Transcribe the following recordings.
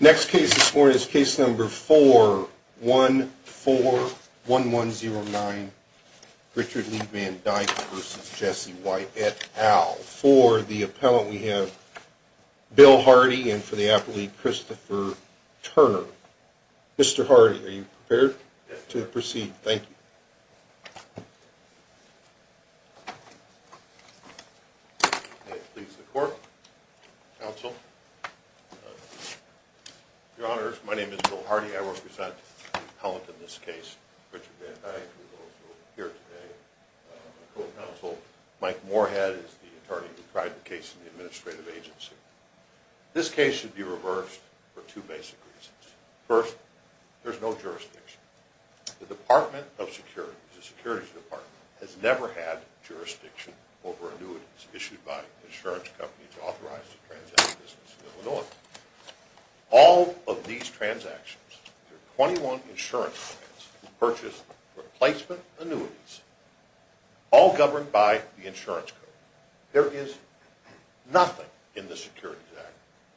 Next case this morning is case number 4141109, Richard Lee Van Dyke v. Jesse White et al. For the appellant we have Bill Hardy and for the appellate Christopher Turner. Mr. Hardy, are you prepared to proceed? Thank you. I please the court, counsel. Your honors, my name is Bill Hardy. I represent the appellant in this case, Richard Van Dyke, who is also here today. Mike Moorhead is the attorney who tried the case in the administrative agency. This case should be reversed for two basic reasons. First, there's no jurisdiction. The Department of Security, the Security Department, has never had jurisdiction over annuities issued by insurance companies authorized to transact business in Illinois. All of these transactions, there are 21 insurance clients who purchase replacement annuities, all governed by the insurance code. There is nothing in the Securities Act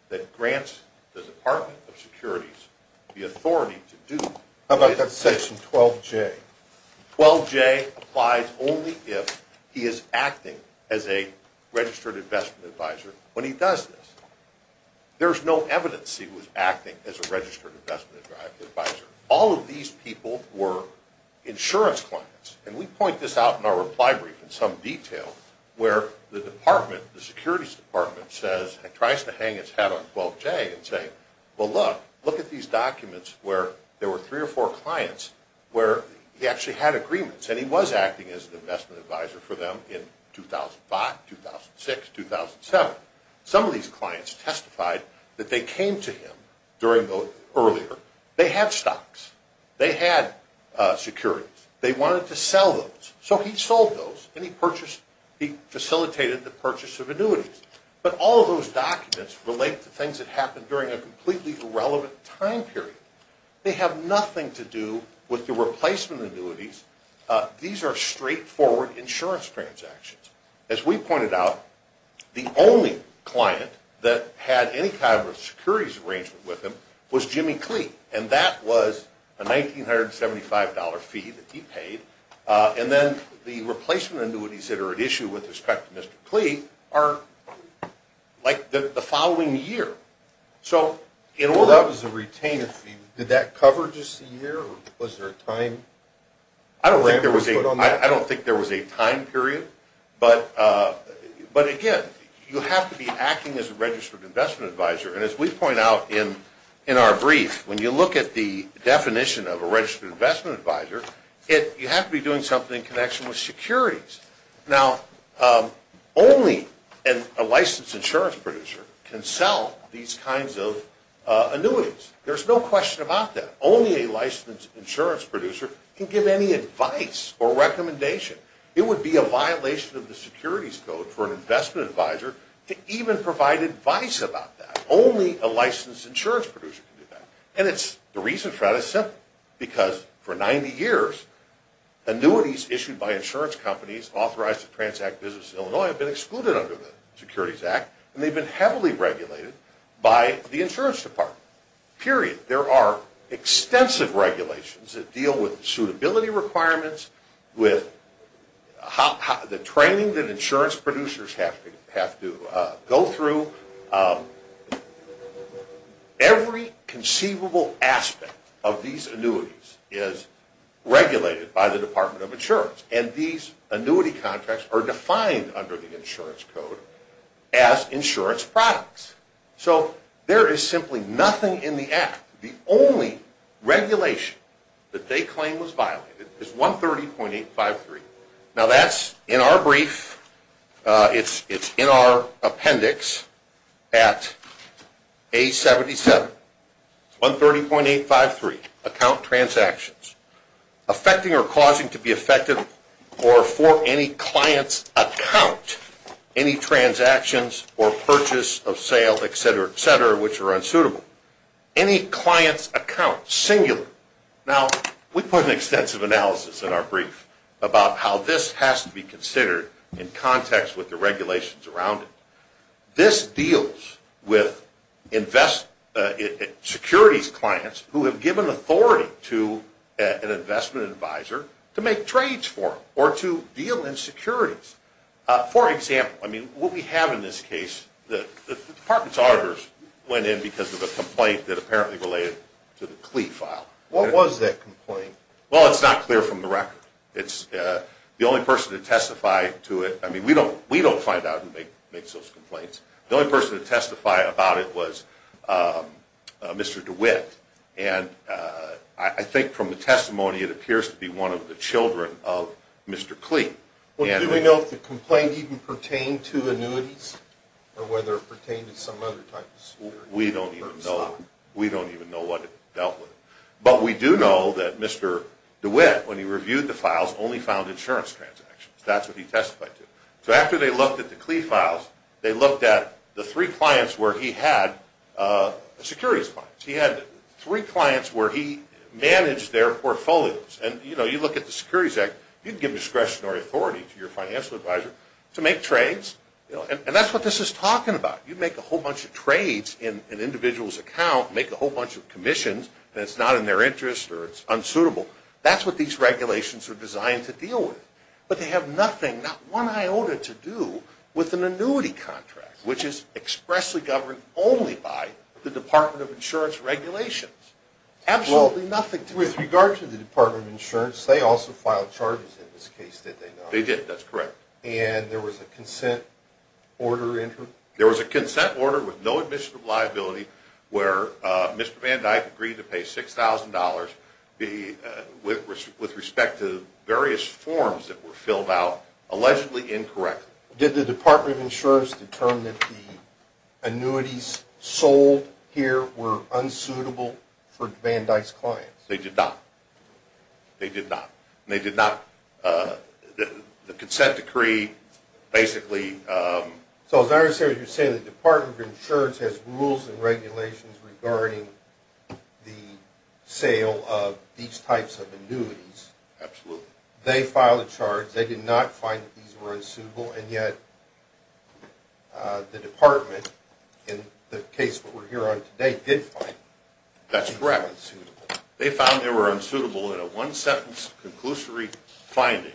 that grants the Department of Security the authority to do this. How about that section 12J? 12J applies only if he is acting as a registered investment advisor when he does this. There's no evidence he was acting as a registered investment advisor. All of these people were insurance clients. And we point this out in our reply brief in some detail where the Department, the Securities Department, says and tries to hang its hat on 12J and say, well look, look at these documents where there were three or four clients where he actually had agreements and he was acting as an investment advisor for them in 2005, 2006, 2007. Some of these clients testified that they came to him earlier. They had stocks. They had securities. They wanted to sell those. So he sold those and he facilitated the purchase of annuities. But all of those documents relate to things that happened during a completely irrelevant time period. They have nothing to do with the replacement annuities. These are straightforward insurance transactions. As we pointed out, the only client that had any kind of securities arrangement with him was Jimmy Clee. And that was a $1,975 fee that he paid. And then the replacement annuities that are at issue with respect to Mr. Clee are like the following year. So in order to retain a fee, did that cover just a year or was there a time? I don't think there was a time period. But again, you have to be acting as a registered investment advisor. And as we point out in our brief, when you look at the definition of a registered investment advisor, you have to be doing something in connection with securities. Now, only a licensed insurance producer can sell these kinds of annuities. There's no question about that. Only a licensed insurance producer can give any advice or recommendation. It would be a violation of the securities code for an investment advisor to even provide advice about that. Only a licensed insurance producer can do that. And the reason for that is simple. Because for 90 years, annuities issued by insurance companies authorized to transact business in Illinois have been excluded under the Securities Act and they've been heavily regulated by the insurance department. Period. There are extensive regulations that deal with suitability requirements, with the training that insurance producers have to go through. Every conceivable aspect of these annuities is regulated by the Department of Insurance. And these annuity contracts are defined under the insurance code as insurance products. So there is simply nothing in the Act. The only regulation that they claim was violated is 130.853. Now, that's in our brief. It's in our appendix at A77. 130.853, account transactions. Affecting or causing to be affected or for any client's account any transactions or purchase of sale, et cetera, et cetera, which are unsuitable. Any client's account, singular. Now, we put an extensive analysis in our brief about how this has to be considered in context with the regulations around it. This deals with securities clients who have given authority to an investment advisor to make trades for them or to deal in securities. For example, I mean, what we have in this case, the department's auditors went in because of a complaint that apparently related to the Klee file. What was that complaint? Well, it's not clear from the record. It's the only person to testify to it. I mean, we don't find out who makes those complaints. The only person to testify about it was Mr. DeWitt. And I think from the testimony, it appears to be one of the children of Mr. Klee. Well, do we know if the complaint even pertained to annuities or whether it pertained to some other type of securities? We don't even know. We don't even know what dealt with it. But we do know that Mr. DeWitt, when he reviewed the files, only found insurance transactions. That's what he testified to. So after they looked at the Klee files, they looked at the three clients where he had securities clients. He had three clients where he managed their portfolios. And, you know, you look at the Securities Act, you can give discretionary authority to your financial advisor to make trades. And that's what this is talking about. You make a whole bunch of trades in an individual's account, make a whole bunch of commissions, and it's not in their interest or it's unsuitable. That's what these regulations are designed to deal with. But they have nothing, not one iota, to do with an annuity contract, which is expressly governed only by the Department of Insurance regulations. Absolutely nothing. With regard to the Department of Insurance, they also filed charges in this case, did they not? They did. That's correct. And there was a consent order in here? There was a consent order with no admission of liability where Mr. Van Dyke agreed to pay $6,000 with respect to various forms that were filled out, allegedly incorrectly. Did the Department of Insurance determine that the annuities sold here were unsuitable for Van Dyke's clients? They did not. They did not. They did not. The consent decree basically... So as I understand what you're saying, the Department of Insurance has rules and regulations regarding the sale of these types of annuities. Absolutely. They filed a charge. They did not find that these were unsuitable. And yet the Department, in the case that we're here on today, did find these unsuitable. That's correct. They found they were unsuitable in a one-sentence conclusory finding,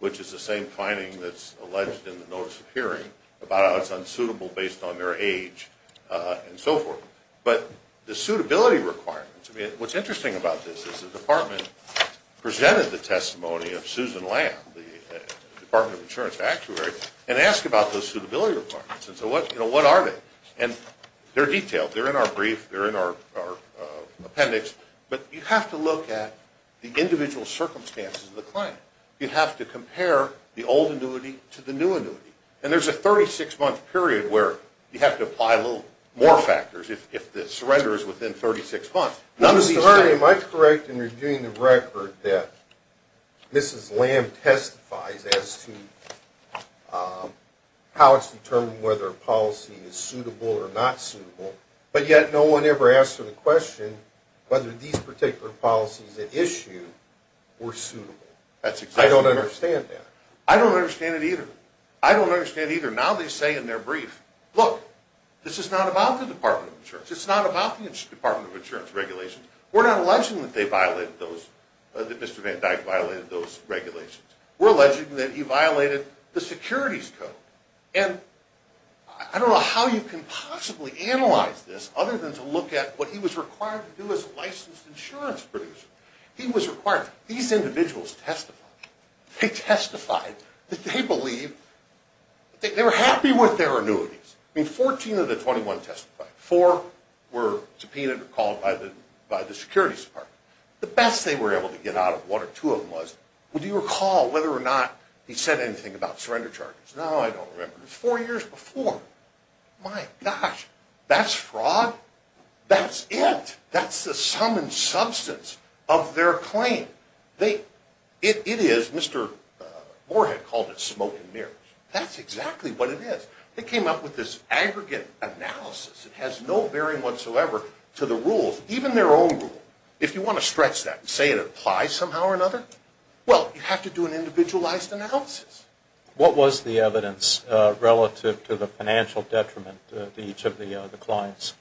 which is the same finding that's alleged in the notice of hearing, about how it's unsuitable based on their age and so forth. But the suitability requirements... What's interesting about this is the Department presented the testimony of Susan Lamb, the Department of Insurance actuary, and asked about those suitability requirements. And so what are they? And they're detailed. They're in our brief. They're in our appendix. But you have to look at the individual circumstances of the client. You have to compare the old annuity to the new annuity. And there's a 36-month period where you have to apply more factors. If the surrender is within 36 months, none of these things... Mr. Lurie, am I correct in reviewing the record that Mrs. Lamb testifies as to how it's determined whether a policy is suitable or not suitable, but yet no one ever asked her the question whether these particular policies at issue were suitable. I don't understand that. I don't understand it either. I don't understand it either. Now they say in their brief, look, this is not about the Department of Insurance. It's not about the Department of Insurance regulations. We're not alleging that Mr. Van Dyke violated those regulations. We're alleging that he violated the securities code. And I don't know how you can possibly analyze this other than to look at what he was required to do as a licensed insurance producer. He was required... These individuals testified. They testified that they believe... They were happy with their annuities. I mean, 14 of the 21 testified. Four were subpoenaed or called by the securities department. The best they were able to get out of one or two of them was, well, do you recall whether or not he said anything about surrender charges? No, I don't remember. It was four years before. My gosh, that's fraud? That's it. That's the sum and substance of their claim. It is. Mr. Moorhead called it smoke and mirrors. That's exactly what it is. They came up with this aggregate analysis. It has no bearing whatsoever to the rules, even their own rule. If you want to stretch that and say it applies somehow or another, well, you have to do an individualized analysis. What was the evidence relative to the financial detriment to each of the clients?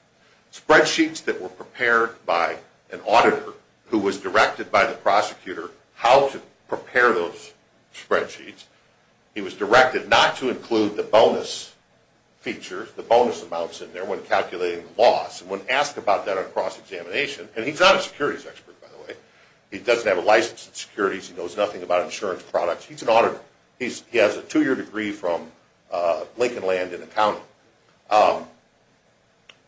Spreadsheets that were prepared by an auditor who was directed by the prosecutor how to prepare those spreadsheets. He was directed not to include the bonus features, the bonus amounts in there when calculating the loss. When asked about that on cross-examination, and he's not a securities expert, by the way. He doesn't have a license in securities. He knows nothing about insurance products. He's an auditor. He has a two-year degree from Lincoln Land in accounting.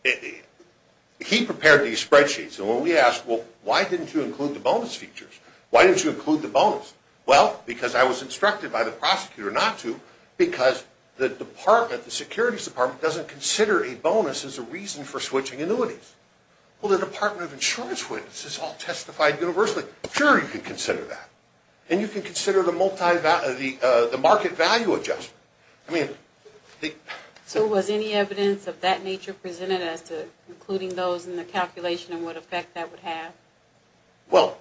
He prepared these spreadsheets. When we asked, well, why didn't you include the bonus features? Why didn't you include the bonus? Well, because I was instructed by the prosecutor not to because the department, the securities department, doesn't consider a bonus as a reason for switching annuities. Well, the Department of Insurance witnesses all testified universally. Sure, you can consider that. And you can consider the market value adjustment. So was any evidence of that nature presented as to including those in the calculation and what effect that would have? Well,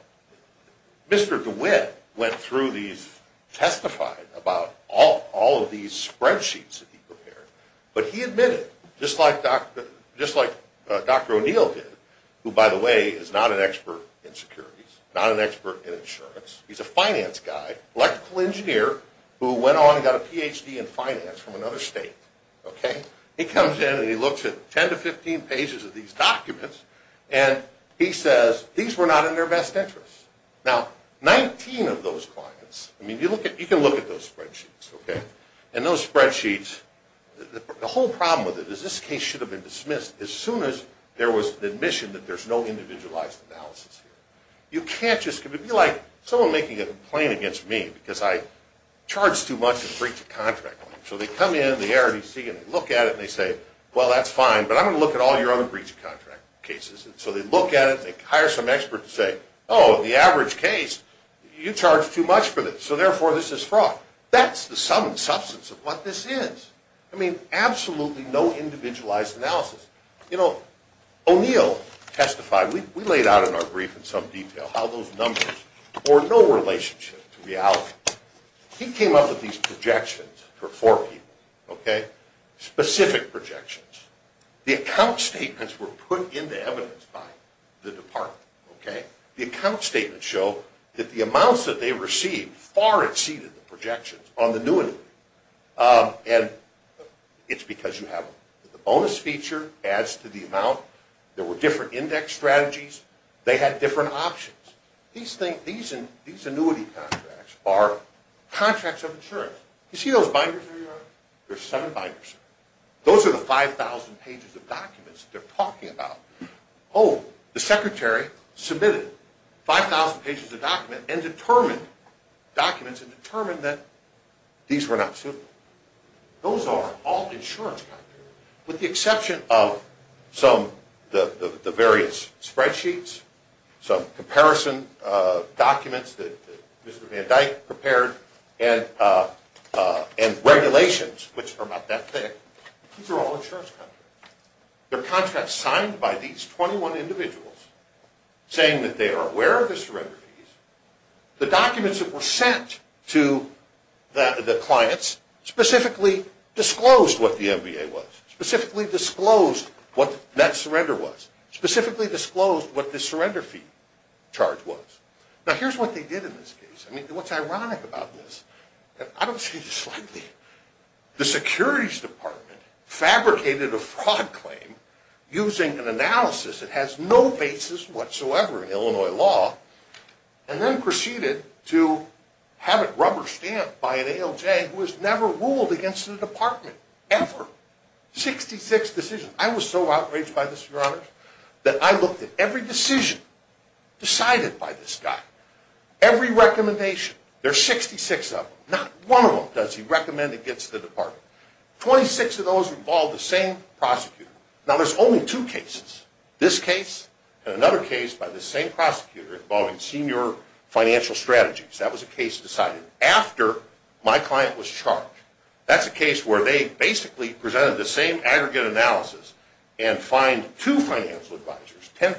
Mr. DeWitt went through these, testified about all of these spreadsheets that he prepared. But he admitted, just like Dr. O'Neill did, who, by the way, is not an expert in securities, not an expert in insurance. He's a finance guy, electrical engineer, who went on and got a Ph.D. in finance from another state. He comes in and he looks at 10 to 15 pages of these documents and he says, these were not in their best interest. Now, 19 of those clients, I mean, you can look at those spreadsheets. And those spreadsheets, the whole problem with it is this case should have been dismissed as soon as there was the admission that there's no individualized analysis here. You can't just, it would be like someone making a complaint against me because I charge too much in breach of contract. So they come in, the RDC, and they look at it and they say, well, that's fine, but I'm going to look at all your other breach of contract cases. And so they look at it, they hire some expert to say, oh, the average case, you charge too much for this, so therefore this is fraud. That's the sum and substance of what this is. I mean, absolutely no individualized analysis. You know, O'Neill testified, we laid out in our brief in some detail how those numbers were no relationship to reality. He came up with these projections for four people, okay, specific projections. The account statements were put into evidence by the department, okay. The account statements show that the amounts that they received far exceeded the projections on the new inquiry. And it's because you have the bonus feature adds to the amount. There were different index strategies. They had different options. These annuity contracts are contracts of insurance. You see those binders in your yard? There are seven binders. Those are the 5,000 pages of documents that they're talking about. Oh, the secretary submitted 5,000 pages of documents and determined documents and determined that these were not suitable. Those are all insurance contracts, with the exception of some of the various spreadsheets, some comparison documents that Mr. Van Dyke prepared, and regulations, which are about that thick. These are all insurance contracts. They're contracts signed by these 21 individuals saying that they are aware of the surrender fees. The documents that were sent to the clients specifically disclosed what the MBA was, specifically disclosed what that surrender was, specifically disclosed what the surrender fee charge was. Now, here's what they did in this case. I mean, what's ironic about this, and I don't say this lightly, the securities department fabricated a fraud claim using an analysis that has no basis whatsoever in Illinois law, and then proceeded to have it rubber stamped by an ALJ who has never ruled against the department, ever. 66 decisions. I was so outraged by this, Your Honor, that I looked at every decision decided by this guy, every recommendation. There are 66 of them. Not one of them does he recommend against the department. 26 of those involve the same prosecutor. Now, there's only two cases, this case and another case by the same prosecutor involving senior financial strategies. That was a case decided after my client was charged. That's a case where they basically presented the same aggregate analysis and fined two financial advisors $10,000,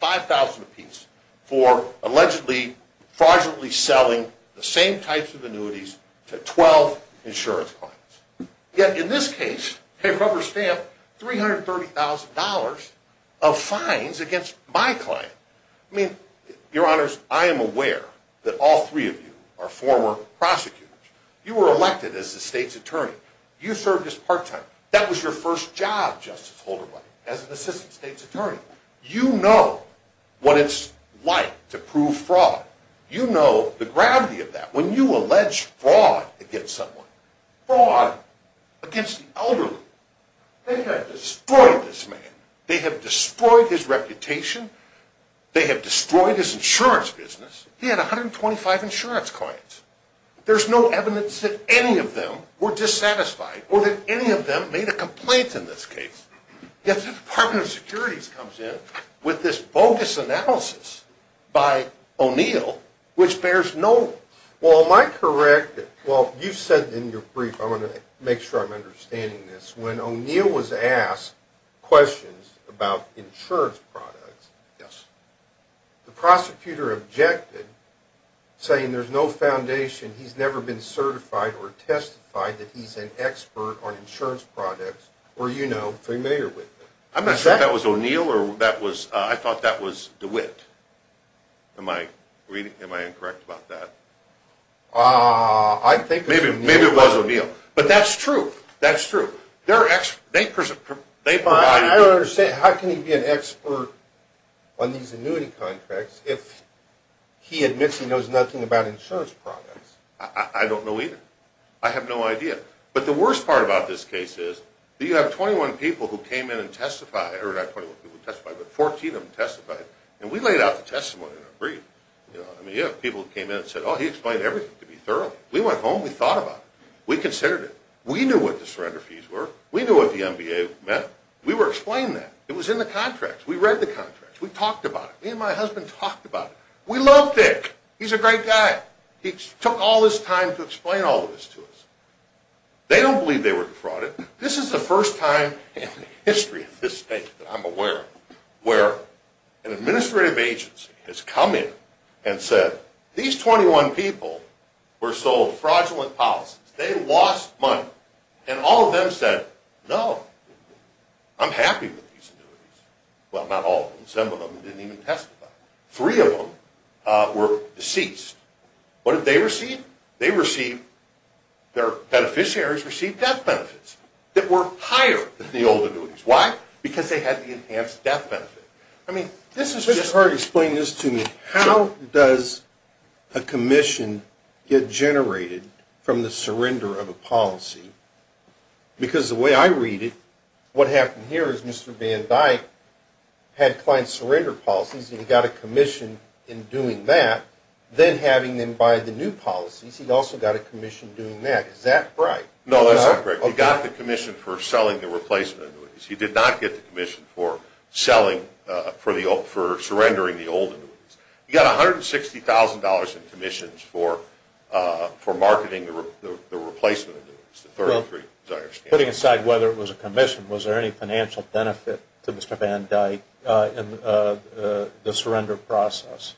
$5,000 apiece, for allegedly fraudulently selling the same types of annuities to 12 insurance clients. Yet, in this case, they rubber stamped $330,000 of fines against my client. I mean, Your Honors, I am aware that all three of you are former prosecutors. You were elected as the state's attorney. You served as part-time. That was your first job, Justice Holderwhite, as an assistant state's attorney. You know what it's like to prove fraud. You know the gravity of that. When you allege fraud against someone, fraud against the elderly, they have destroyed this man. They have destroyed his reputation. They have destroyed his insurance business. He had 125 insurance clients. There's no evidence that any of them were dissatisfied or that any of them made a complaint in this case. Yet, the Department of Security comes in with this bogus analysis by O'Neill, which bears no... Well, am I correct? Well, you said in your brief, I want to make sure I'm understanding this, when O'Neill was asked questions about insurance products, the prosecutor objected, saying there's no foundation. He's never been certified or testified that he's an expert on insurance products or, you know, familiar with them. I'm not sure if that was O'Neill or I thought that was DeWitt. Am I incorrect about that? I think it was O'Neill. Maybe it was O'Neill. But that's true. That's true. I don't understand. How can he be an expert on these annuity contracts if he admits he knows nothing about insurance products? I don't know either. I have no idea. But the worst part about this case is you have 21 people who came in and testified, or not 21 people who testified, but 14 of them testified, and we laid out the testimony in our brief. I mean, you have people who came in and said, oh, he explained everything to me thoroughly. We went home. We thought about it. We considered it. We knew what the surrender fees were. We knew what the MBA meant. We were explained that. It was in the contracts. We read the contracts. We talked about it. Me and my husband talked about it. We love Dick. He's a great guy. He took all this time to explain all this to us. They don't believe they were defrauded. This is the first time in the history of this state that I'm aware of where an administrative agency has come in and said, these 21 people were sold fraudulent policies. They lost money. And all of them said, no, I'm happy with these annuities. Well, not all of them. Some of them didn't even testify. Three of them were deceased. What did they receive? They received, their beneficiaries received death benefits that were higher than the old annuities. Why? Because they had the enhanced death benefit. I mean, this is just. Just explain this to me. How does a commission get generated from the surrender of a policy? Because the way I read it, what happened here is Mr. Van Dyke had client surrender policies, and he got a commission in doing that, then having them buy the new policies, he also got a commission doing that. Is that right? No, that's not correct. He got the commission for selling the replacement annuities. He did not get the commission for selling, for surrendering the old annuities. He got $160,000 in commissions for marketing the replacement annuities, the 33, as I understand it. Putting aside whether it was a commission, was there any financial benefit to Mr. Van Dyke in the surrender process?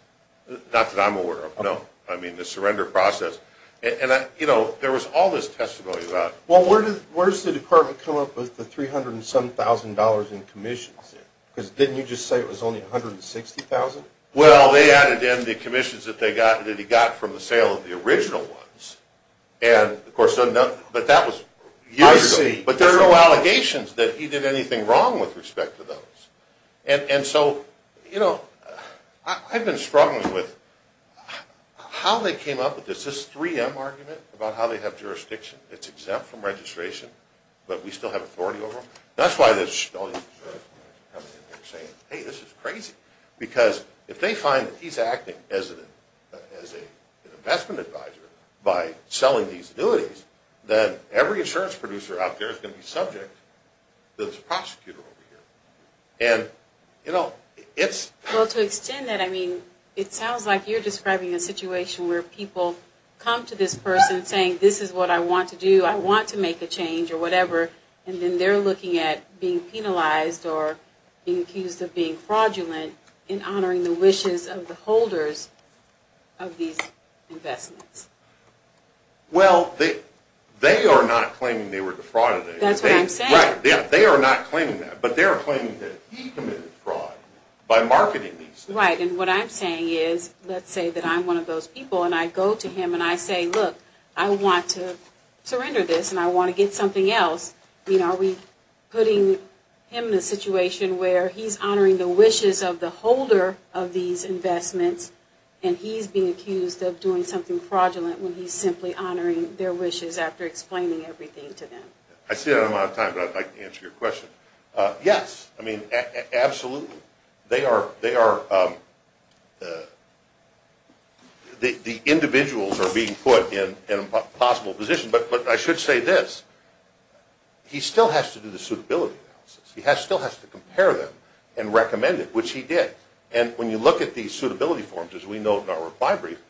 Not that I'm aware of, no. I mean, the surrender process. And, you know, there was all this testimony about. Well, where does the department come up with the $307,000 in commissions? Because didn't you just say it was only $160,000? Well, they added in the commissions that he got from the sale of the original ones. And, of course, but that was years ago. I see. But there are no allegations that he did anything wrong with respect to those. And so, you know, I've been struggling with how they came up with this. There's this 3M argument about how they have jurisdiction. It's exempt from registration, but we still have authority over them. That's why there's so many people coming in here saying, hey, this is crazy. Because if they find that he's acting as an investment advisor by selling these annuities, then every insurance producer out there is going to be subject to this prosecutor over here. And, you know, it's. Well, to extend that, I mean, it sounds like you're describing a situation where people come to this person saying this is what I want to do, I want to make a change or whatever, and then they're looking at being penalized or being accused of being fraudulent in honoring the wishes of the holders of these investments. Well, they are not claiming they were defrauded. That's what I'm saying. Right. They are not claiming that. But they are claiming that he committed fraud by marketing these things. Right, and what I'm saying is, let's say that I'm one of those people, and I go to him and I say, look, I want to surrender this and I want to get something else. Are we putting him in a situation where he's honoring the wishes of the holder of these investments and he's being accused of doing something fraudulent when he's simply honoring their wishes after explaining everything to them? I see that I'm out of time, but I'd like to answer your question. Yes, I mean, absolutely. The individuals are being put in impossible positions. But I should say this. He still has to do the suitability analysis. He still has to compare them and recommend it, which he did. And when you look at the suitability forms, as we know from our reply brief,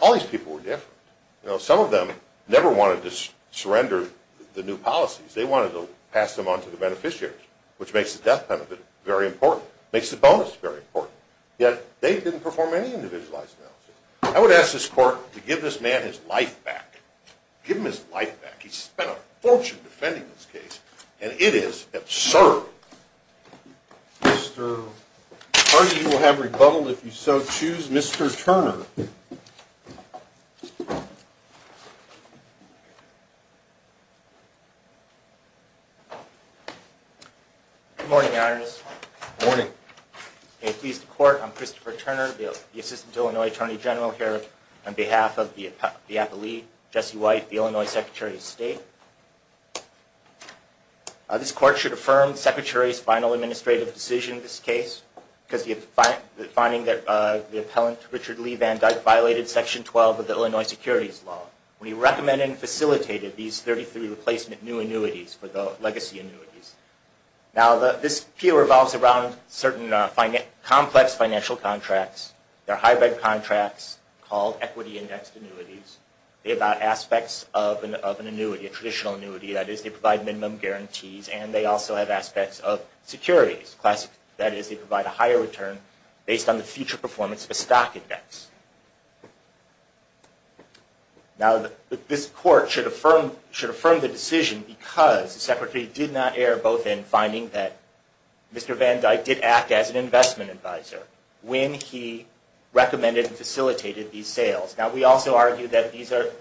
all these people were different. Some of them never wanted to surrender the new policies. They wanted to pass them on to the beneficiaries, which makes the death penalty very important, makes the bonus very important. Yet they didn't perform any individualized analysis. I would ask this Court to give this man his life back. Give him his life back. He spent a fortune defending this case, and it is absurd. Mr. Hardy, you will have rebuttal if you so choose. Mr. Turner. Good morning, Your Honor. Good morning. It pleases the Court. I'm Christopher Turner, the Assistant to Illinois Attorney General here on behalf of the appellee, Jesse White, the Illinois Secretary of State. This Court should affirm the Secretary's final administrative decision in this case, finding that the appellant Richard Lee Van Dyke violated Section 12 of the Illinois Securities Law when he recommended and facilitated these 33 replacement new annuities for the legacy annuities. Now, this appeal revolves around certain complex financial contracts. They're hybrid contracts called equity-indexed annuities. They have aspects of an annuity, a traditional annuity. That is, they provide minimum guarantees, and they also have aspects of securities. That is, they provide a higher return based on the future performance of a stock index. Now, this Court should affirm the decision because the Secretary did not err both in finding that Mr. Van Dyke did act as an investment advisor when he recommended and facilitated these sales. Now, we also argue that these are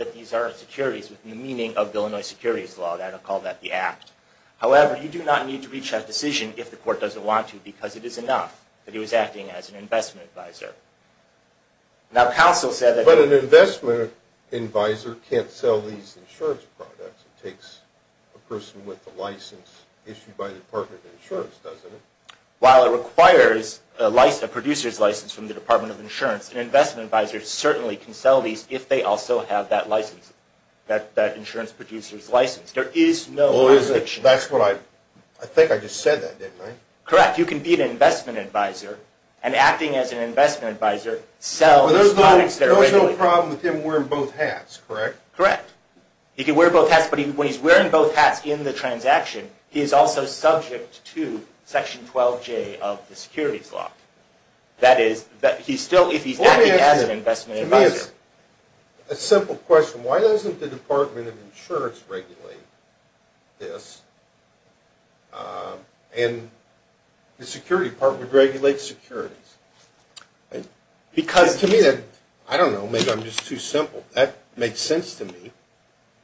securities within the meaning of the Illinois Securities Law. I don't call that the act. However, you do not need to reach that decision if the Court doesn't want to because it is enough that he was acting as an investment advisor. But an investment advisor can't sell these insurance products. It takes a person with a license issued by the Department of Insurance, doesn't it? While it requires a producer's license from the Department of Insurance, an investment advisor certainly can sell these if they also have that insurance producer's license. There is no objection. I think I just said that, didn't I? Correct. You can be an investment advisor and acting as an investment advisor, sell these products that are regulated. There was no problem with him wearing both hats, correct? Correct. He can wear both hats, but when he's wearing both hats in the transaction, he is also subject to Section 12J of the Securities Law. That is, if he's acting as an investment advisor. To me, it's a simple question. Why doesn't the Department of Insurance regulate this and the Securities Department regulate securities? To me, I don't know. Maybe I'm just too simple. That makes sense to me.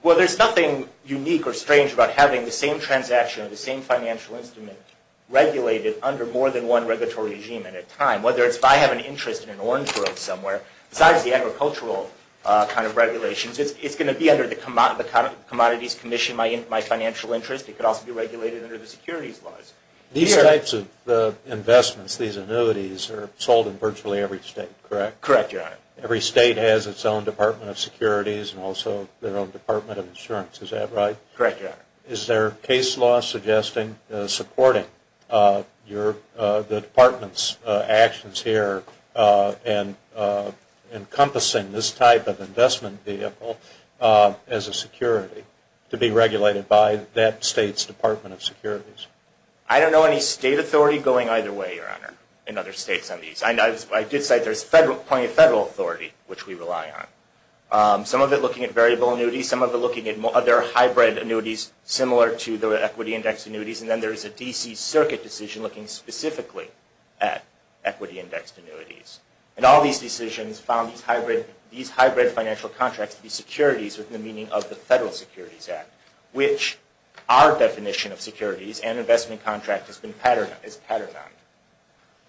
Well, there's nothing unique or strange about having the same transaction or the same financial instrument regulated under more than one regulatory regime at a time. Whether it's if I have an interest in an orange grove somewhere, besides the agricultural kind of regulations, it's going to be under the Commodities Commission, my financial interest. It could also be regulated under the securities laws. These types of investments, these annuities, are sold in virtually every state, correct? Correct, Your Honor. Every state has its own Department of Securities and also their own Department of Insurance. Is that right? Correct, Your Honor. Is there case law suggesting supporting the Department's actions here and encompassing this type of investment vehicle as a security to be regulated by that state's Department of Securities? I don't know any state authority going either way, Your Honor, in other states on these. I did cite there's plenty of federal authority, which we rely on. Some of it looking at variable annuities. Some of it looking at other hybrid annuities similar to the equity index annuities. And then there's a D.C. Circuit decision looking specifically at equity indexed annuities. And all these decisions found these hybrid financial contracts to be securities with the meaning of the Federal Securities Act, which our definition of securities and investment contract has been patterned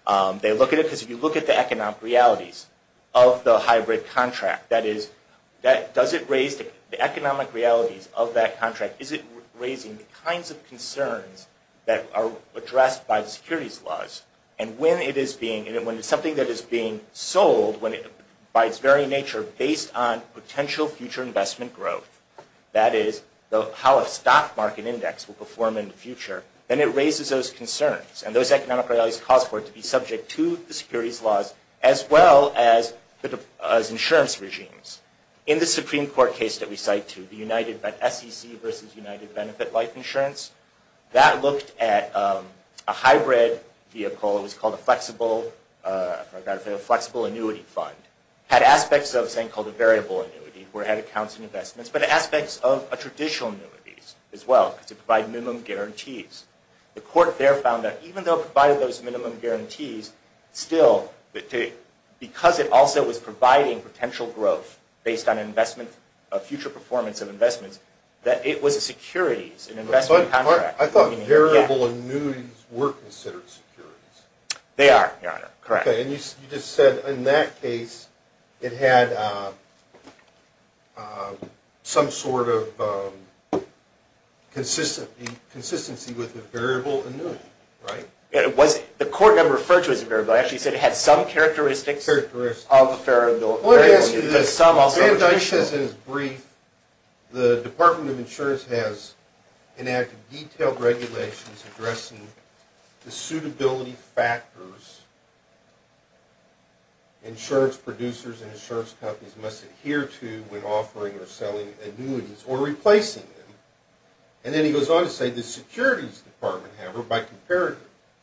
on. They look at it because if you look at the economic realities of the hybrid contract, that is, does it raise the economic realities of that contract? Is it raising the kinds of concerns that are addressed by the securities laws? And when it's something that is being sold by its very nature based on potential future investment growth, that is, how a stock market index will perform in the future, then it raises those concerns. And those economic realities cause for it to be subject to the securities laws as well as insurance regimes. In the Supreme Court case that we cite, the SEC versus United Benefit Life Insurance, that looked at a hybrid vehicle. It was called a flexible annuity fund. It had aspects of a variable annuity where it had accounts and investments, but aspects of a traditional annuity as well because it provided minimum guarantees. The court there found that even though it provided those minimum guarantees, still because it also was providing potential growth based on future performance of investments, that it was a securities, an investment contract. I thought variable annuities were considered securities. They are, Your Honor. Correct. Okay, and you just said in that case it had some sort of consistency with a variable annuity, right? The court never referred to it as a variable. It actually said it had some characteristics of a variable. Let me ask you this. In his brief, the Department of Insurance has enacted detailed regulations addressing the suitability factors insurance producers and insurance companies must adhere to when offering or selling annuities or replacing them. And then he goes on to say the securities department, however, by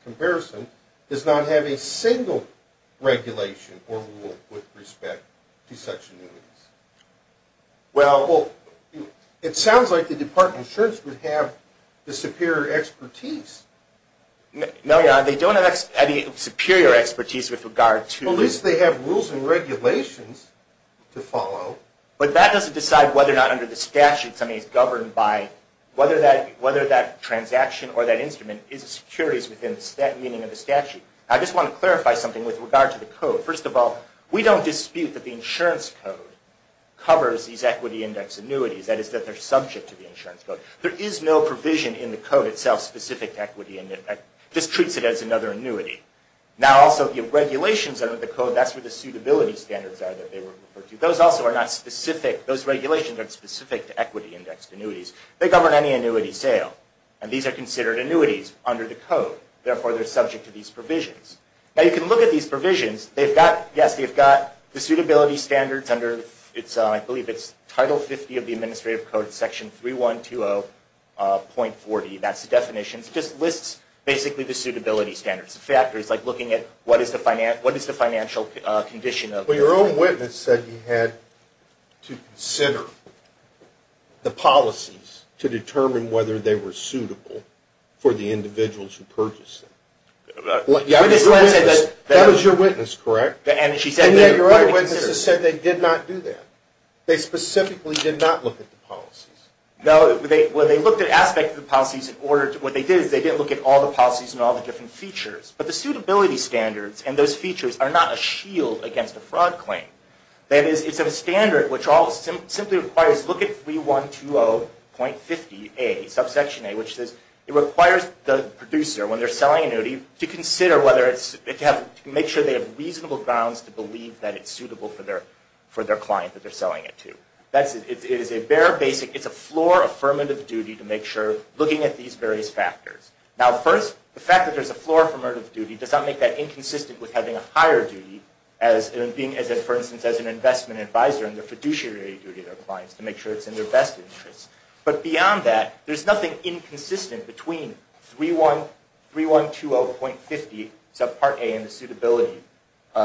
comparison, does not have a single regulation or rule with respect to such annuities. Well, it sounds like the Department of Insurance would have the superior expertise. No, Your Honor, they don't have any superior expertise with regard to... Well, at least they have rules and regulations to follow. But that doesn't decide whether or not under the statutes, I mean, whether that transaction or that instrument is securities within that meaning of the statute. I just want to clarify something with regard to the code. First of all, we don't dispute that the insurance code covers these equity index annuities. That is, that they're subject to the insurance code. There is no provision in the code itself specific to equity. It just treats it as another annuity. Now, also, the regulations under the code, that's where the suitability standards are that they were referred to. But those also are not specific, those regulations aren't specific to equity indexed annuities. They govern any annuity sale. And these are considered annuities under the code. Therefore, they're subject to these provisions. Now, you can look at these provisions. They've got, yes, they've got the suitability standards under, I believe it's Title 50 of the Administrative Code, Section 3120.40. That's the definition. It just lists, basically, the suitability standards. The factors, like looking at what is the financial condition of... Well, your own witness said you had to consider the policies to determine whether they were suitable for the individuals who purchased them. That was your witness, correct? And she said that... And your other witnesses said they did not do that. They specifically did not look at the policies. No, well, they looked at aspects of the policies in order to... What they did is they didn't look at all the policies and all the different features. But the suitability standards and those features are not a shield against a fraud claim. That is, it's a standard which simply requires... Look at 3120.50a, subsection a, which says it requires the producer, when they're selling an annuity, to consider whether it's... To make sure they have reasonable grounds to believe that it's suitable for their client that they're selling it to. It is a bare basic... It's a floor affirmative duty to make sure, looking at these various factors. Now, first, the fact that there's a floor affirmative duty does not make that inconsistent with having a higher duty as in being, for instance, as an investment advisor in the fiduciary duty of their clients to make sure it's in their best interest. But beyond that, there's nothing inconsistent between 3120.50, subpart a, and the suitability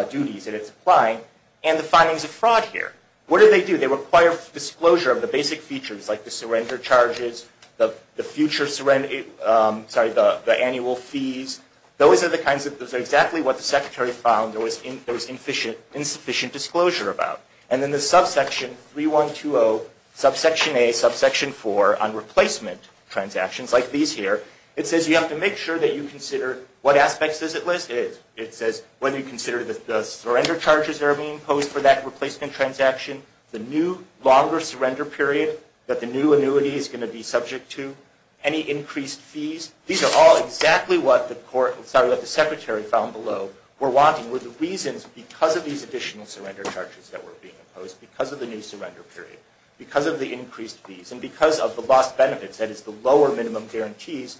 duties that it's applying, and the findings of fraud here. What do they do? They require disclosure of the basic features like the surrender charges, the future... Sorry, the annual fees. Those are the kinds of... Those are exactly what the secretary found there was insufficient disclosure about. And then the subsection 3120, subsection a, subsection four on replacement transactions like these here, it says you have to make sure that you consider what aspects does it list? It is. It says whether you consider the surrender charges that are being imposed for that replacement transaction, the new longer surrender period that the new annuity is going to be subject to, any increased fees. These are all exactly what the court... Sorry, what the secretary found below were wanting, were the reasons because of these additional surrender charges that were being imposed, because of the new surrender period, because of the increased fees, and because of the lost benefits, that is the lower minimum guarantees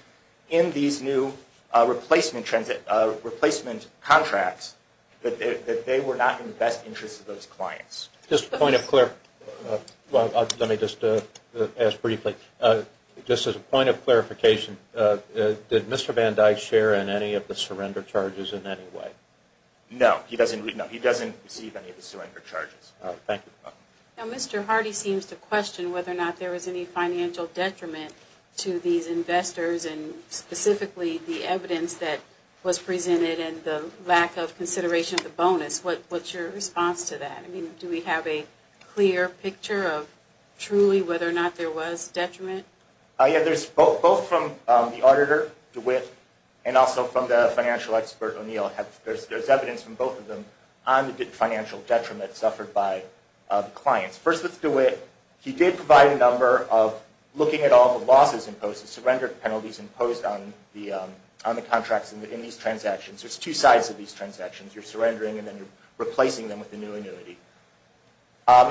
in these new replacement contracts, that they were not in the best interest of those clients. Just a point of clarification. Let me just ask briefly. Just as a point of clarification, did Mr. Van Dyke share in any of the surrender charges in any way? No, he doesn't receive any of the surrender charges. Thank you. Now, Mr. Hardy seems to question whether or not there was any financial detriment to these investors and specifically the evidence that was presented and the lack of consideration of the bonus. What is your response to that? Do we have a clear picture of truly whether or not there was detriment? Yes. Both from the auditor, DeWitt, and also from the financial expert, O'Neill, there's evidence from both of them on the financial detriment suffered by the clients. First with DeWitt, he did provide a number of looking at all the losses imposed, the surrender penalties imposed on the contracts in these transactions. There's two sides of these transactions. You're surrendering and then you're replacing them with a new annuity.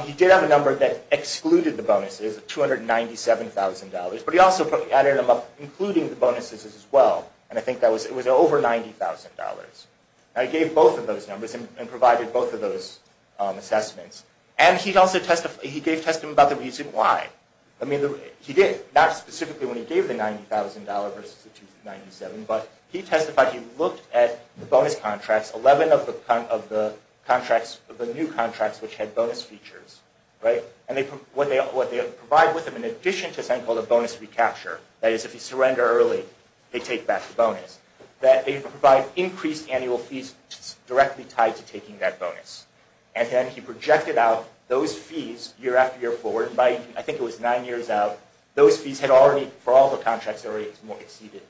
He did have a number that excluded the bonuses, $297,000, but he also added them up including the bonuses as well. I think it was over $90,000. He gave both of those numbers and provided both of those assessments. He also testified about the reason why. He did, not specifically when he gave the $90,000 versus the $297,000, but he testified he looked at the bonus contracts, 11 of the new contracts which had bonus features. What they provide with them in addition to something called a bonus recapture, that is if you surrender early, they take back the bonus. They provide increased annual fees directly tied to taking that bonus. Then he projected out those fees year after year forward. I think it was nine years out. Those fees had already, for all the contracts, exceeded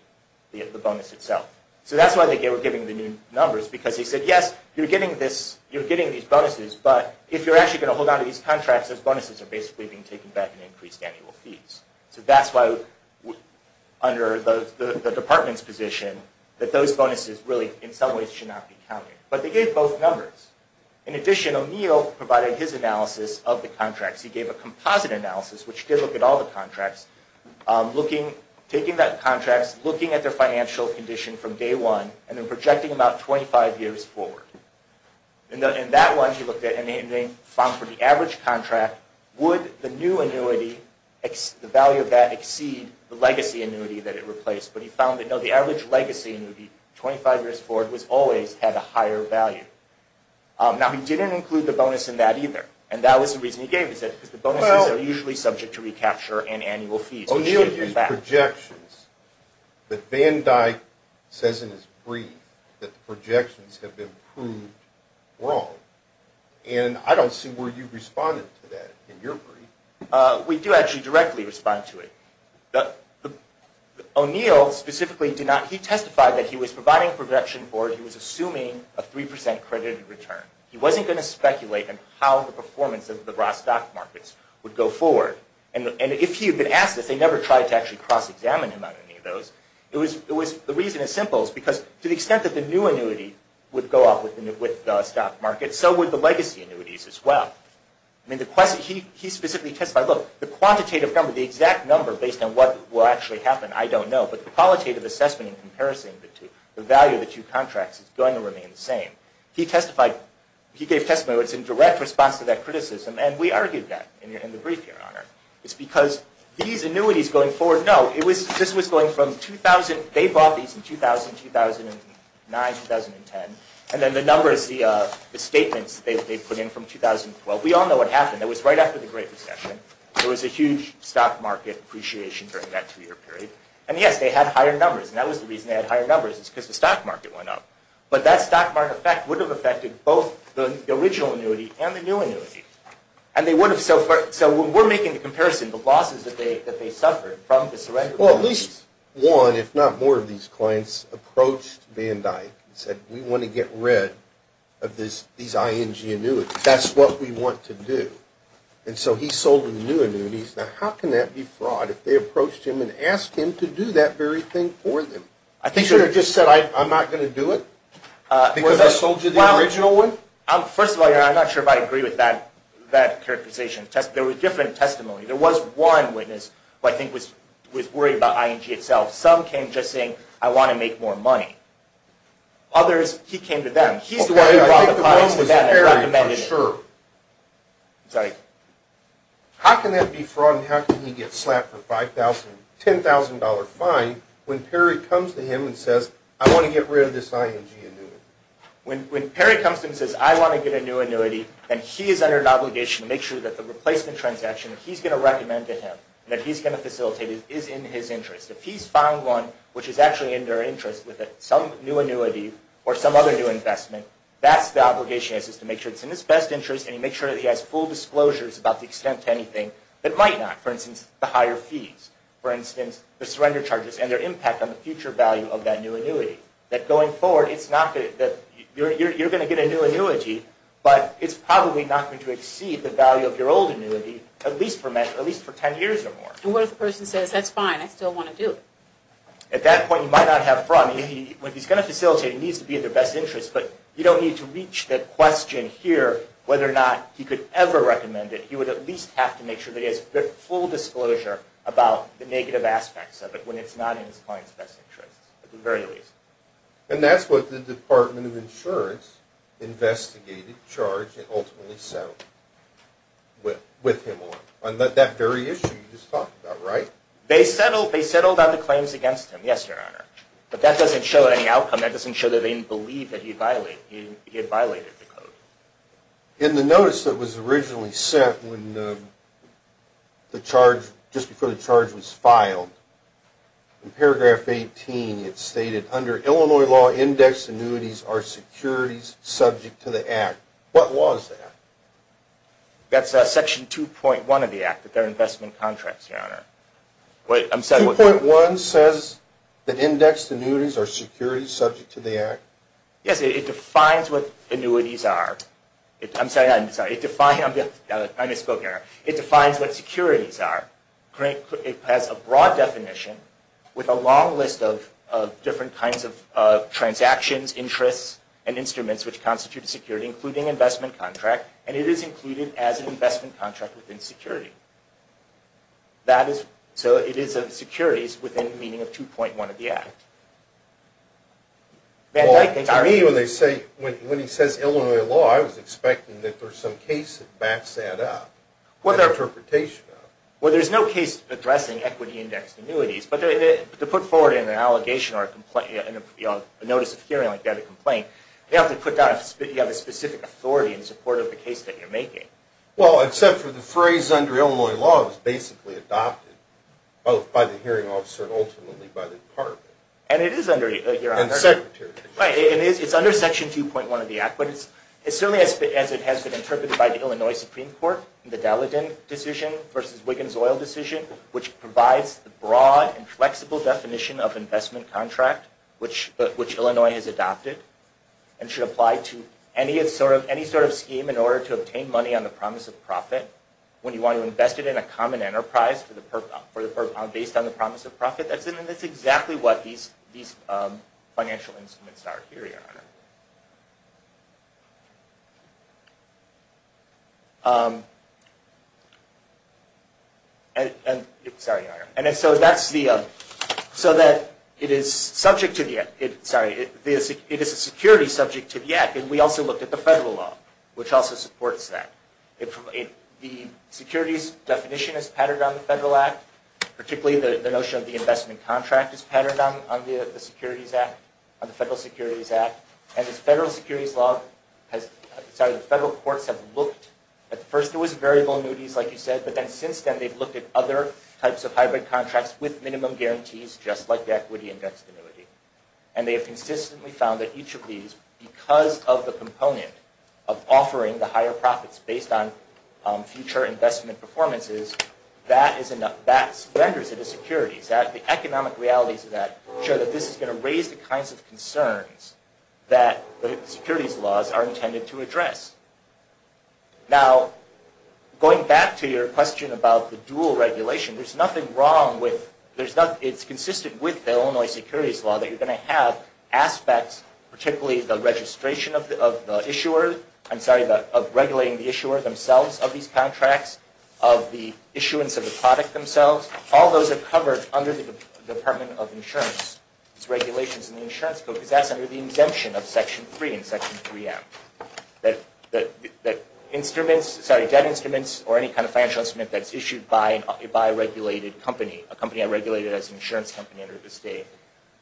the bonus itself. That's why they were giving the new numbers because he said, yes, you're getting these bonuses, but if you're actually going to hold on to these contracts, those bonuses are basically being taken back in increased annual fees. That's why under the department's position that those bonuses really in some ways should not be counted. But they gave both numbers. In addition, O'Neill provided his analysis of the contracts. He gave a composite analysis which did look at all the contracts, taking that contracts, looking at their financial condition from day one, and then projecting about 25 years forward. In that one, he looked at and he found for the average contract, would the new annuity, the value of that exceed the legacy annuity that it replaced? But he found that no, the average legacy annuity 25 years forward always had a higher value. Now, he didn't include the bonus in that either. That was the reason he gave, because the bonuses are usually subject to recapture and annual fees. O'Neill used projections. But Van Dyck says in his brief that the projections have been proved wrong. And I don't see where you responded to that in your brief. We do actually directly respond to it. O'Neill specifically did not. He testified that he was providing a projection board. He was assuming a 3% credited return. He wasn't going to speculate in how the performance of the broad stock markets would go forward. And if he had been asked this, they never tried to actually cross-examine him on any of those. The reason is simple. It's because to the extent that the new annuity would go up with the stock market, so would the legacy annuities as well. He specifically testified, look, the quantitative number, the exact number based on what will actually happen, I don't know, but the qualitative assessment in comparison to the value of the two contracts is going to remain the same. He gave testimony that was in direct response to that criticism. And we argued that in the brief, Your Honor. It's because these annuities going forward, no, this was going from 2000, they bought these in 2000, 2009, 2010. And then the numbers, the statements that they put in from 2012, we all know what happened. It was right after the Great Recession. There was a huge stock market appreciation during that two-year period. And yes, they had higher numbers. And that was the reason they had higher numbers is because the stock market went up. But that stock market effect would have affected both the original annuity and the new annuity. And they would have, so when we're making the comparison, the losses that they suffered from the surrender. Well, at least one, if not more, of these clients approached Van Dyck and said, we want to get rid of these ING annuities. That's what we want to do. And so he sold them the new annuities. Now, how can that be fraud if they approached him and asked him to do that very thing for them? He should have just said, I'm not going to do it because I sold you the original one? First of all, I'm not sure if I agree with that characterization. There were different testimonies. There was one witness who I think was worried about ING itself. Some came just saying, I want to make more money. Others, he came to them. I think the one was Perry for sure. How can that be fraud and how can he get slapped with a $10,000 fine when Perry comes to him and says, I want to get rid of this ING annuity? When Perry comes to him and says, I want to get a new annuity, then he is under an obligation to make sure that the replacement transaction that he's going to recommend to him and that he's going to facilitate is in his interest. If he's found one which is actually in their interest with some new annuity or some other new investment, that's the obligation is to make sure it's in his best interest and to make sure that he has full disclosures about the extent to anything that might not. For instance, the higher fees. For instance, the surrender charges and their impact on the future value of that new annuity. That going forward, you're going to get a new annuity, but it's probably not going to exceed the value of your old annuity at least for 10 years or more. And what if the person says, that's fine, I still want to do it? At that point, you might not have fraud. If he's going to facilitate, it needs to be in their best interest, but you don't need to reach that question here whether or not he could ever recommend it. You would at least have to make sure that he has full disclosure about the negative aspects of it when it's not in his client's best interest at the very least. And that's what the Department of Insurance investigated, charged, and ultimately settled with him on. On that very issue you just talked about, right? They settled on the claims against him, yes, Your Honor. But that doesn't show any outcome. That doesn't show that they didn't believe that he had violated the code. In the notice that was originally sent just before the charge was filed, in paragraph 18 it stated, under Illinois law, indexed annuities are securities subject to the Act. What was that? That's section 2.1 of the Act, that they're investment contracts, Your Honor. 2.1 says that indexed annuities are securities subject to the Act? Yes, it defines what annuities are. I'm sorry, I misspoke, Your Honor. It defines what securities are. It has a broad definition with a long list of different kinds of transactions, interests, and instruments which constitute a security, including investment contract, and it is included as an investment contract within security. So it is securities within the meaning of 2.1 of the Act. For me, when he says Illinois law, I was expecting that there's some case that backs that up. What interpretation of it? Well, there's no case addressing equity indexed annuities, but to put forward in an allegation or a notice of hearing like that, a complaint, you have to put down that you have a specific authority in support of the case that you're making. Well, except for the phrase, under Illinois law, it was basically adopted, both by the hearing officer and ultimately by the department. And it is under, Your Honor, it's under Section 2.1 of the Act, but it's certainly as it has been interpreted by the Illinois Supreme Court, the Dalladin decision versus Wiggins Oil decision, which provides the broad and flexible definition of investment contract, which Illinois has adopted, and should apply to any sort of scheme in order to obtain money on the promise of profit when you want to invest it in a common enterprise based on the promise of profit. And that's exactly what these financial instruments are here, Your Honor. So that it is subject to the Act. Sorry, it is a security subject to the Act, and we also looked at the federal law, which also supports that. The securities definition is patterned on the Federal Act, particularly the notion of the investment contract is patterned on the Securities Act, on the Federal Securities Act. And the Federal Securities Law, sorry, the federal courts have looked, at first it was variable annuities, like you said, but then since then they've looked at other types of hybrid contracts with minimum guarantees, just like the equity indexed annuity. And they have consistently found that each of these, because of the component of offering the higher profits based on future investment performances, that renders it a security. The economic realities of that show that this is going to raise the kinds of concerns that the securities laws are intended to address. Now, going back to your question about the dual regulation, there's nothing wrong with, it's consistent with the Illinois securities law, that you're going to have aspects, particularly the registration of the issuer, I'm sorry, of regulating the issuer themselves of these contracts, of the issuance of the product themselves, all those are covered under the Department of Insurance. It's regulations in the insurance code, because that's under the exemption of Section 3 and Section 3M. That instruments, sorry, debt instruments, or any kind of financial instrument that's issued by a regulated company, a company I regulated as an insurance company under the state,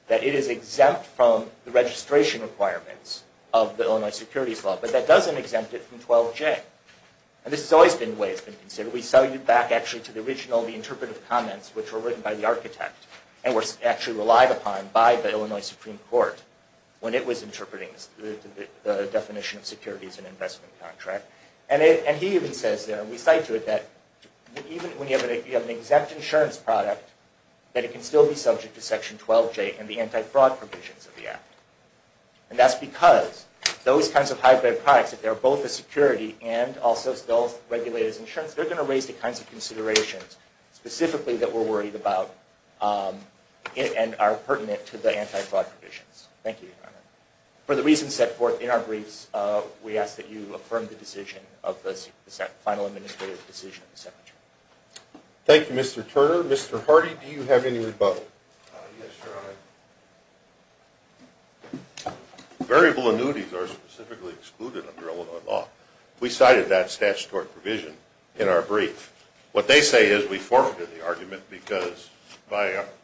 that it is exempt from the registration requirements of the Illinois securities law, but that doesn't exempt it from 12J. And this has always been the way it's been considered. We sell you back, actually, to the original, the interpretive comments, which were written by the architect, and were actually relied upon by the Illinois Supreme Court when it was interpreting the definition of securities in an investment contract. And he even says there, and we cite to it, that even when you have an exempt insurance product, that it can still be subject to Section 12J and the anti-fraud provisions of the Act. And that's because those kinds of high-value products, if they're both a security and also still regulated as insurance, they're going to raise the kinds of considerations specifically that we're worried about and are pertinent to the anti-fraud provisions. Thank you, Your Honor. For the reasons set forth in our briefs, we ask that you affirm the decision of the final administrative decision of the Secretary. Thank you, Mr. Turner. Mr. Hardy, do you have any rebuttal? Yes, Your Honor. Variable annuities are specifically excluded under Illinois law. We cited that statutory provision in our brief. What they say is we forfeited the argument because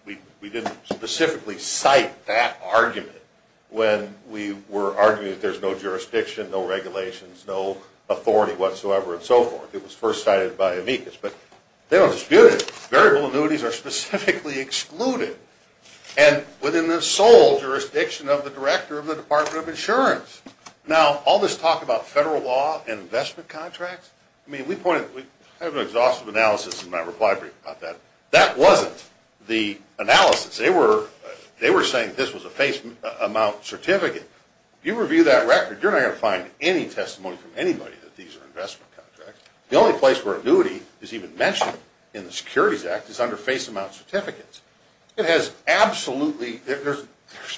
we didn't specifically cite that argument when we were arguing that there's no jurisdiction, no regulations, no authority whatsoever and so forth. It was first cited by amicus. But they don't dispute it. Variable annuities are specifically excluded and within the sole jurisdiction of the director of the Department of Insurance. Now, all this talk about federal law and investment contracts, I mean, we have an exhaustive analysis in my reply brief about that. That wasn't the analysis. They were saying this was a face amount certificate. You review that record, you're not going to find any testimony from anybody that these are investment contracts. The only place where annuity is even mentioned in the Securities Act is under face amount certificates. It has absolutely, there's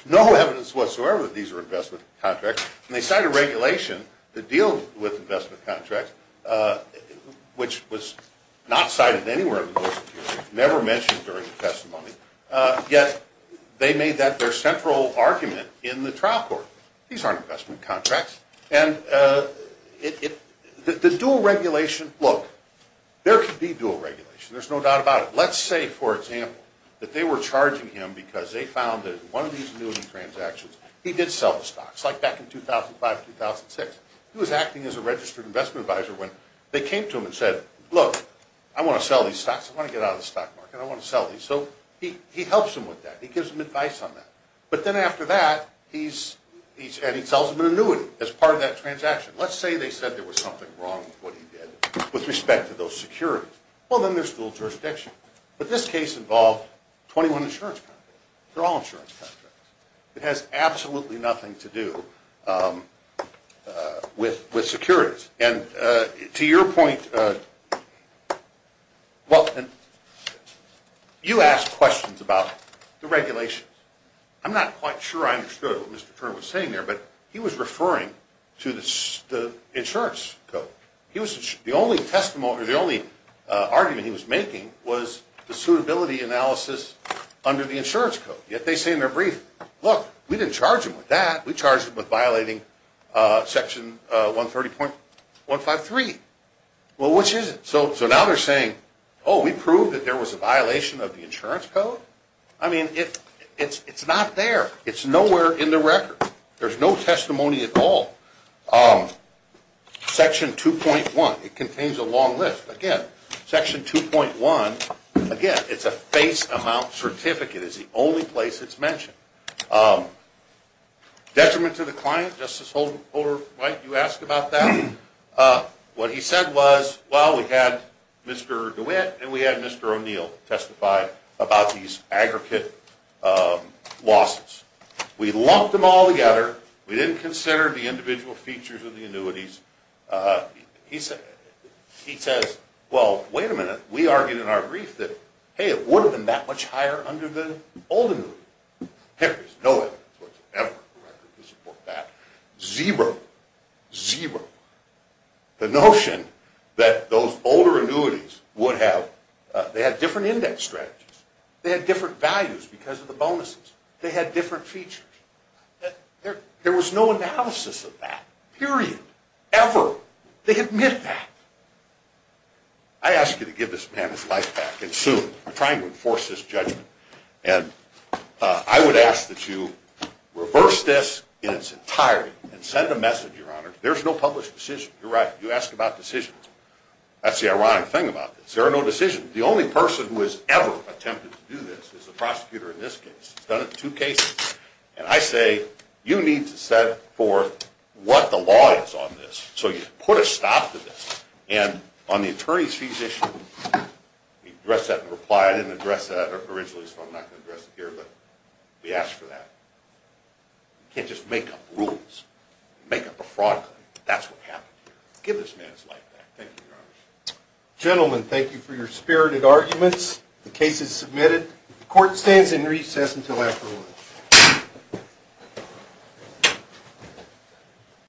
no evidence whatsoever that these are investment contracts. And they cited regulation that deals with investment contracts, which was not cited anywhere in the motion here. It was never mentioned during the testimony. Yet, they made that their central argument in the trial court. These aren't investment contracts. And the dual regulation, look, there could be dual regulation. There's no doubt about it. Let's say, for example, that they were charging him because they found that in one of these annuity transactions, he did sell the stocks, like back in 2005, 2006. He was acting as a registered investment advisor when they came to him and said, look, I want to sell these stocks. I want to get out of the stock market. I want to sell these. So he helps him with that. He gives him advice on that. But then after that, he sells them an annuity as part of that transaction. Let's say they said there was something wrong with what he did with respect to those securities. Well, then there's dual jurisdiction. But this case involved 21 insurance contracts. They're all insurance contracts. It has absolutely nothing to do with securities. And to your point, you asked questions about the regulations. I'm not quite sure I understood what Mr. Turner was saying there, but he was referring to the insurance code. The only argument he was making was the suitability analysis under the insurance code. Yet they say in their brief, look, we didn't charge him with that. We charged him with violating Section 130.153. Well, which is it? So now they're saying, oh, we proved that there was a violation of the insurance code? I mean, it's not there. It's nowhere in the record. There's no testimony at all. Section 2.1, it contains a long list. Again, Section 2.1, again, it's a face amount certificate. It's the only place it's mentioned. Detriment to the client, Justice Holder-White, you asked about that. What he said was, well, we had Mr. DeWitt and we had Mr. O'Neill testify about these aggregate losses. We lumped them all together. We didn't consider the individual features of the annuities. He says, well, wait a minute. We argued in our brief that, hey, it would have been that much higher under the old annuity. There is no evidence whatsoever in the record to support that. Zero, zero. The notion that those older annuities would have, they had different index strategies. They had different values because of the bonuses. They had different features. There was no analysis of that, period, ever. They admit that. I ask you to give this man his life back, and soon. I'm trying to enforce this judgment. And I would ask that you reverse this in its entirety and send a message, Your Honor. There's no published decision. You're right. You asked about decisions. That's the ironic thing about this. There are no decisions. The only person who has ever attempted to do this is the prosecutor in this case. He's done it in two cases. And I say, you need to set forth what the law is on this. So you put a stop to this. And on the attorney's fees issue, address that in reply. I didn't address that originally, so I'm not going to address it here. But we asked for that. You can't just make up rules. Make up a fraud claim. That's what happened here. Give this man his life back. Thank you, Your Honor. Gentlemen, thank you for your spirited arguments. The case is submitted. Court stands in recess until after lunch.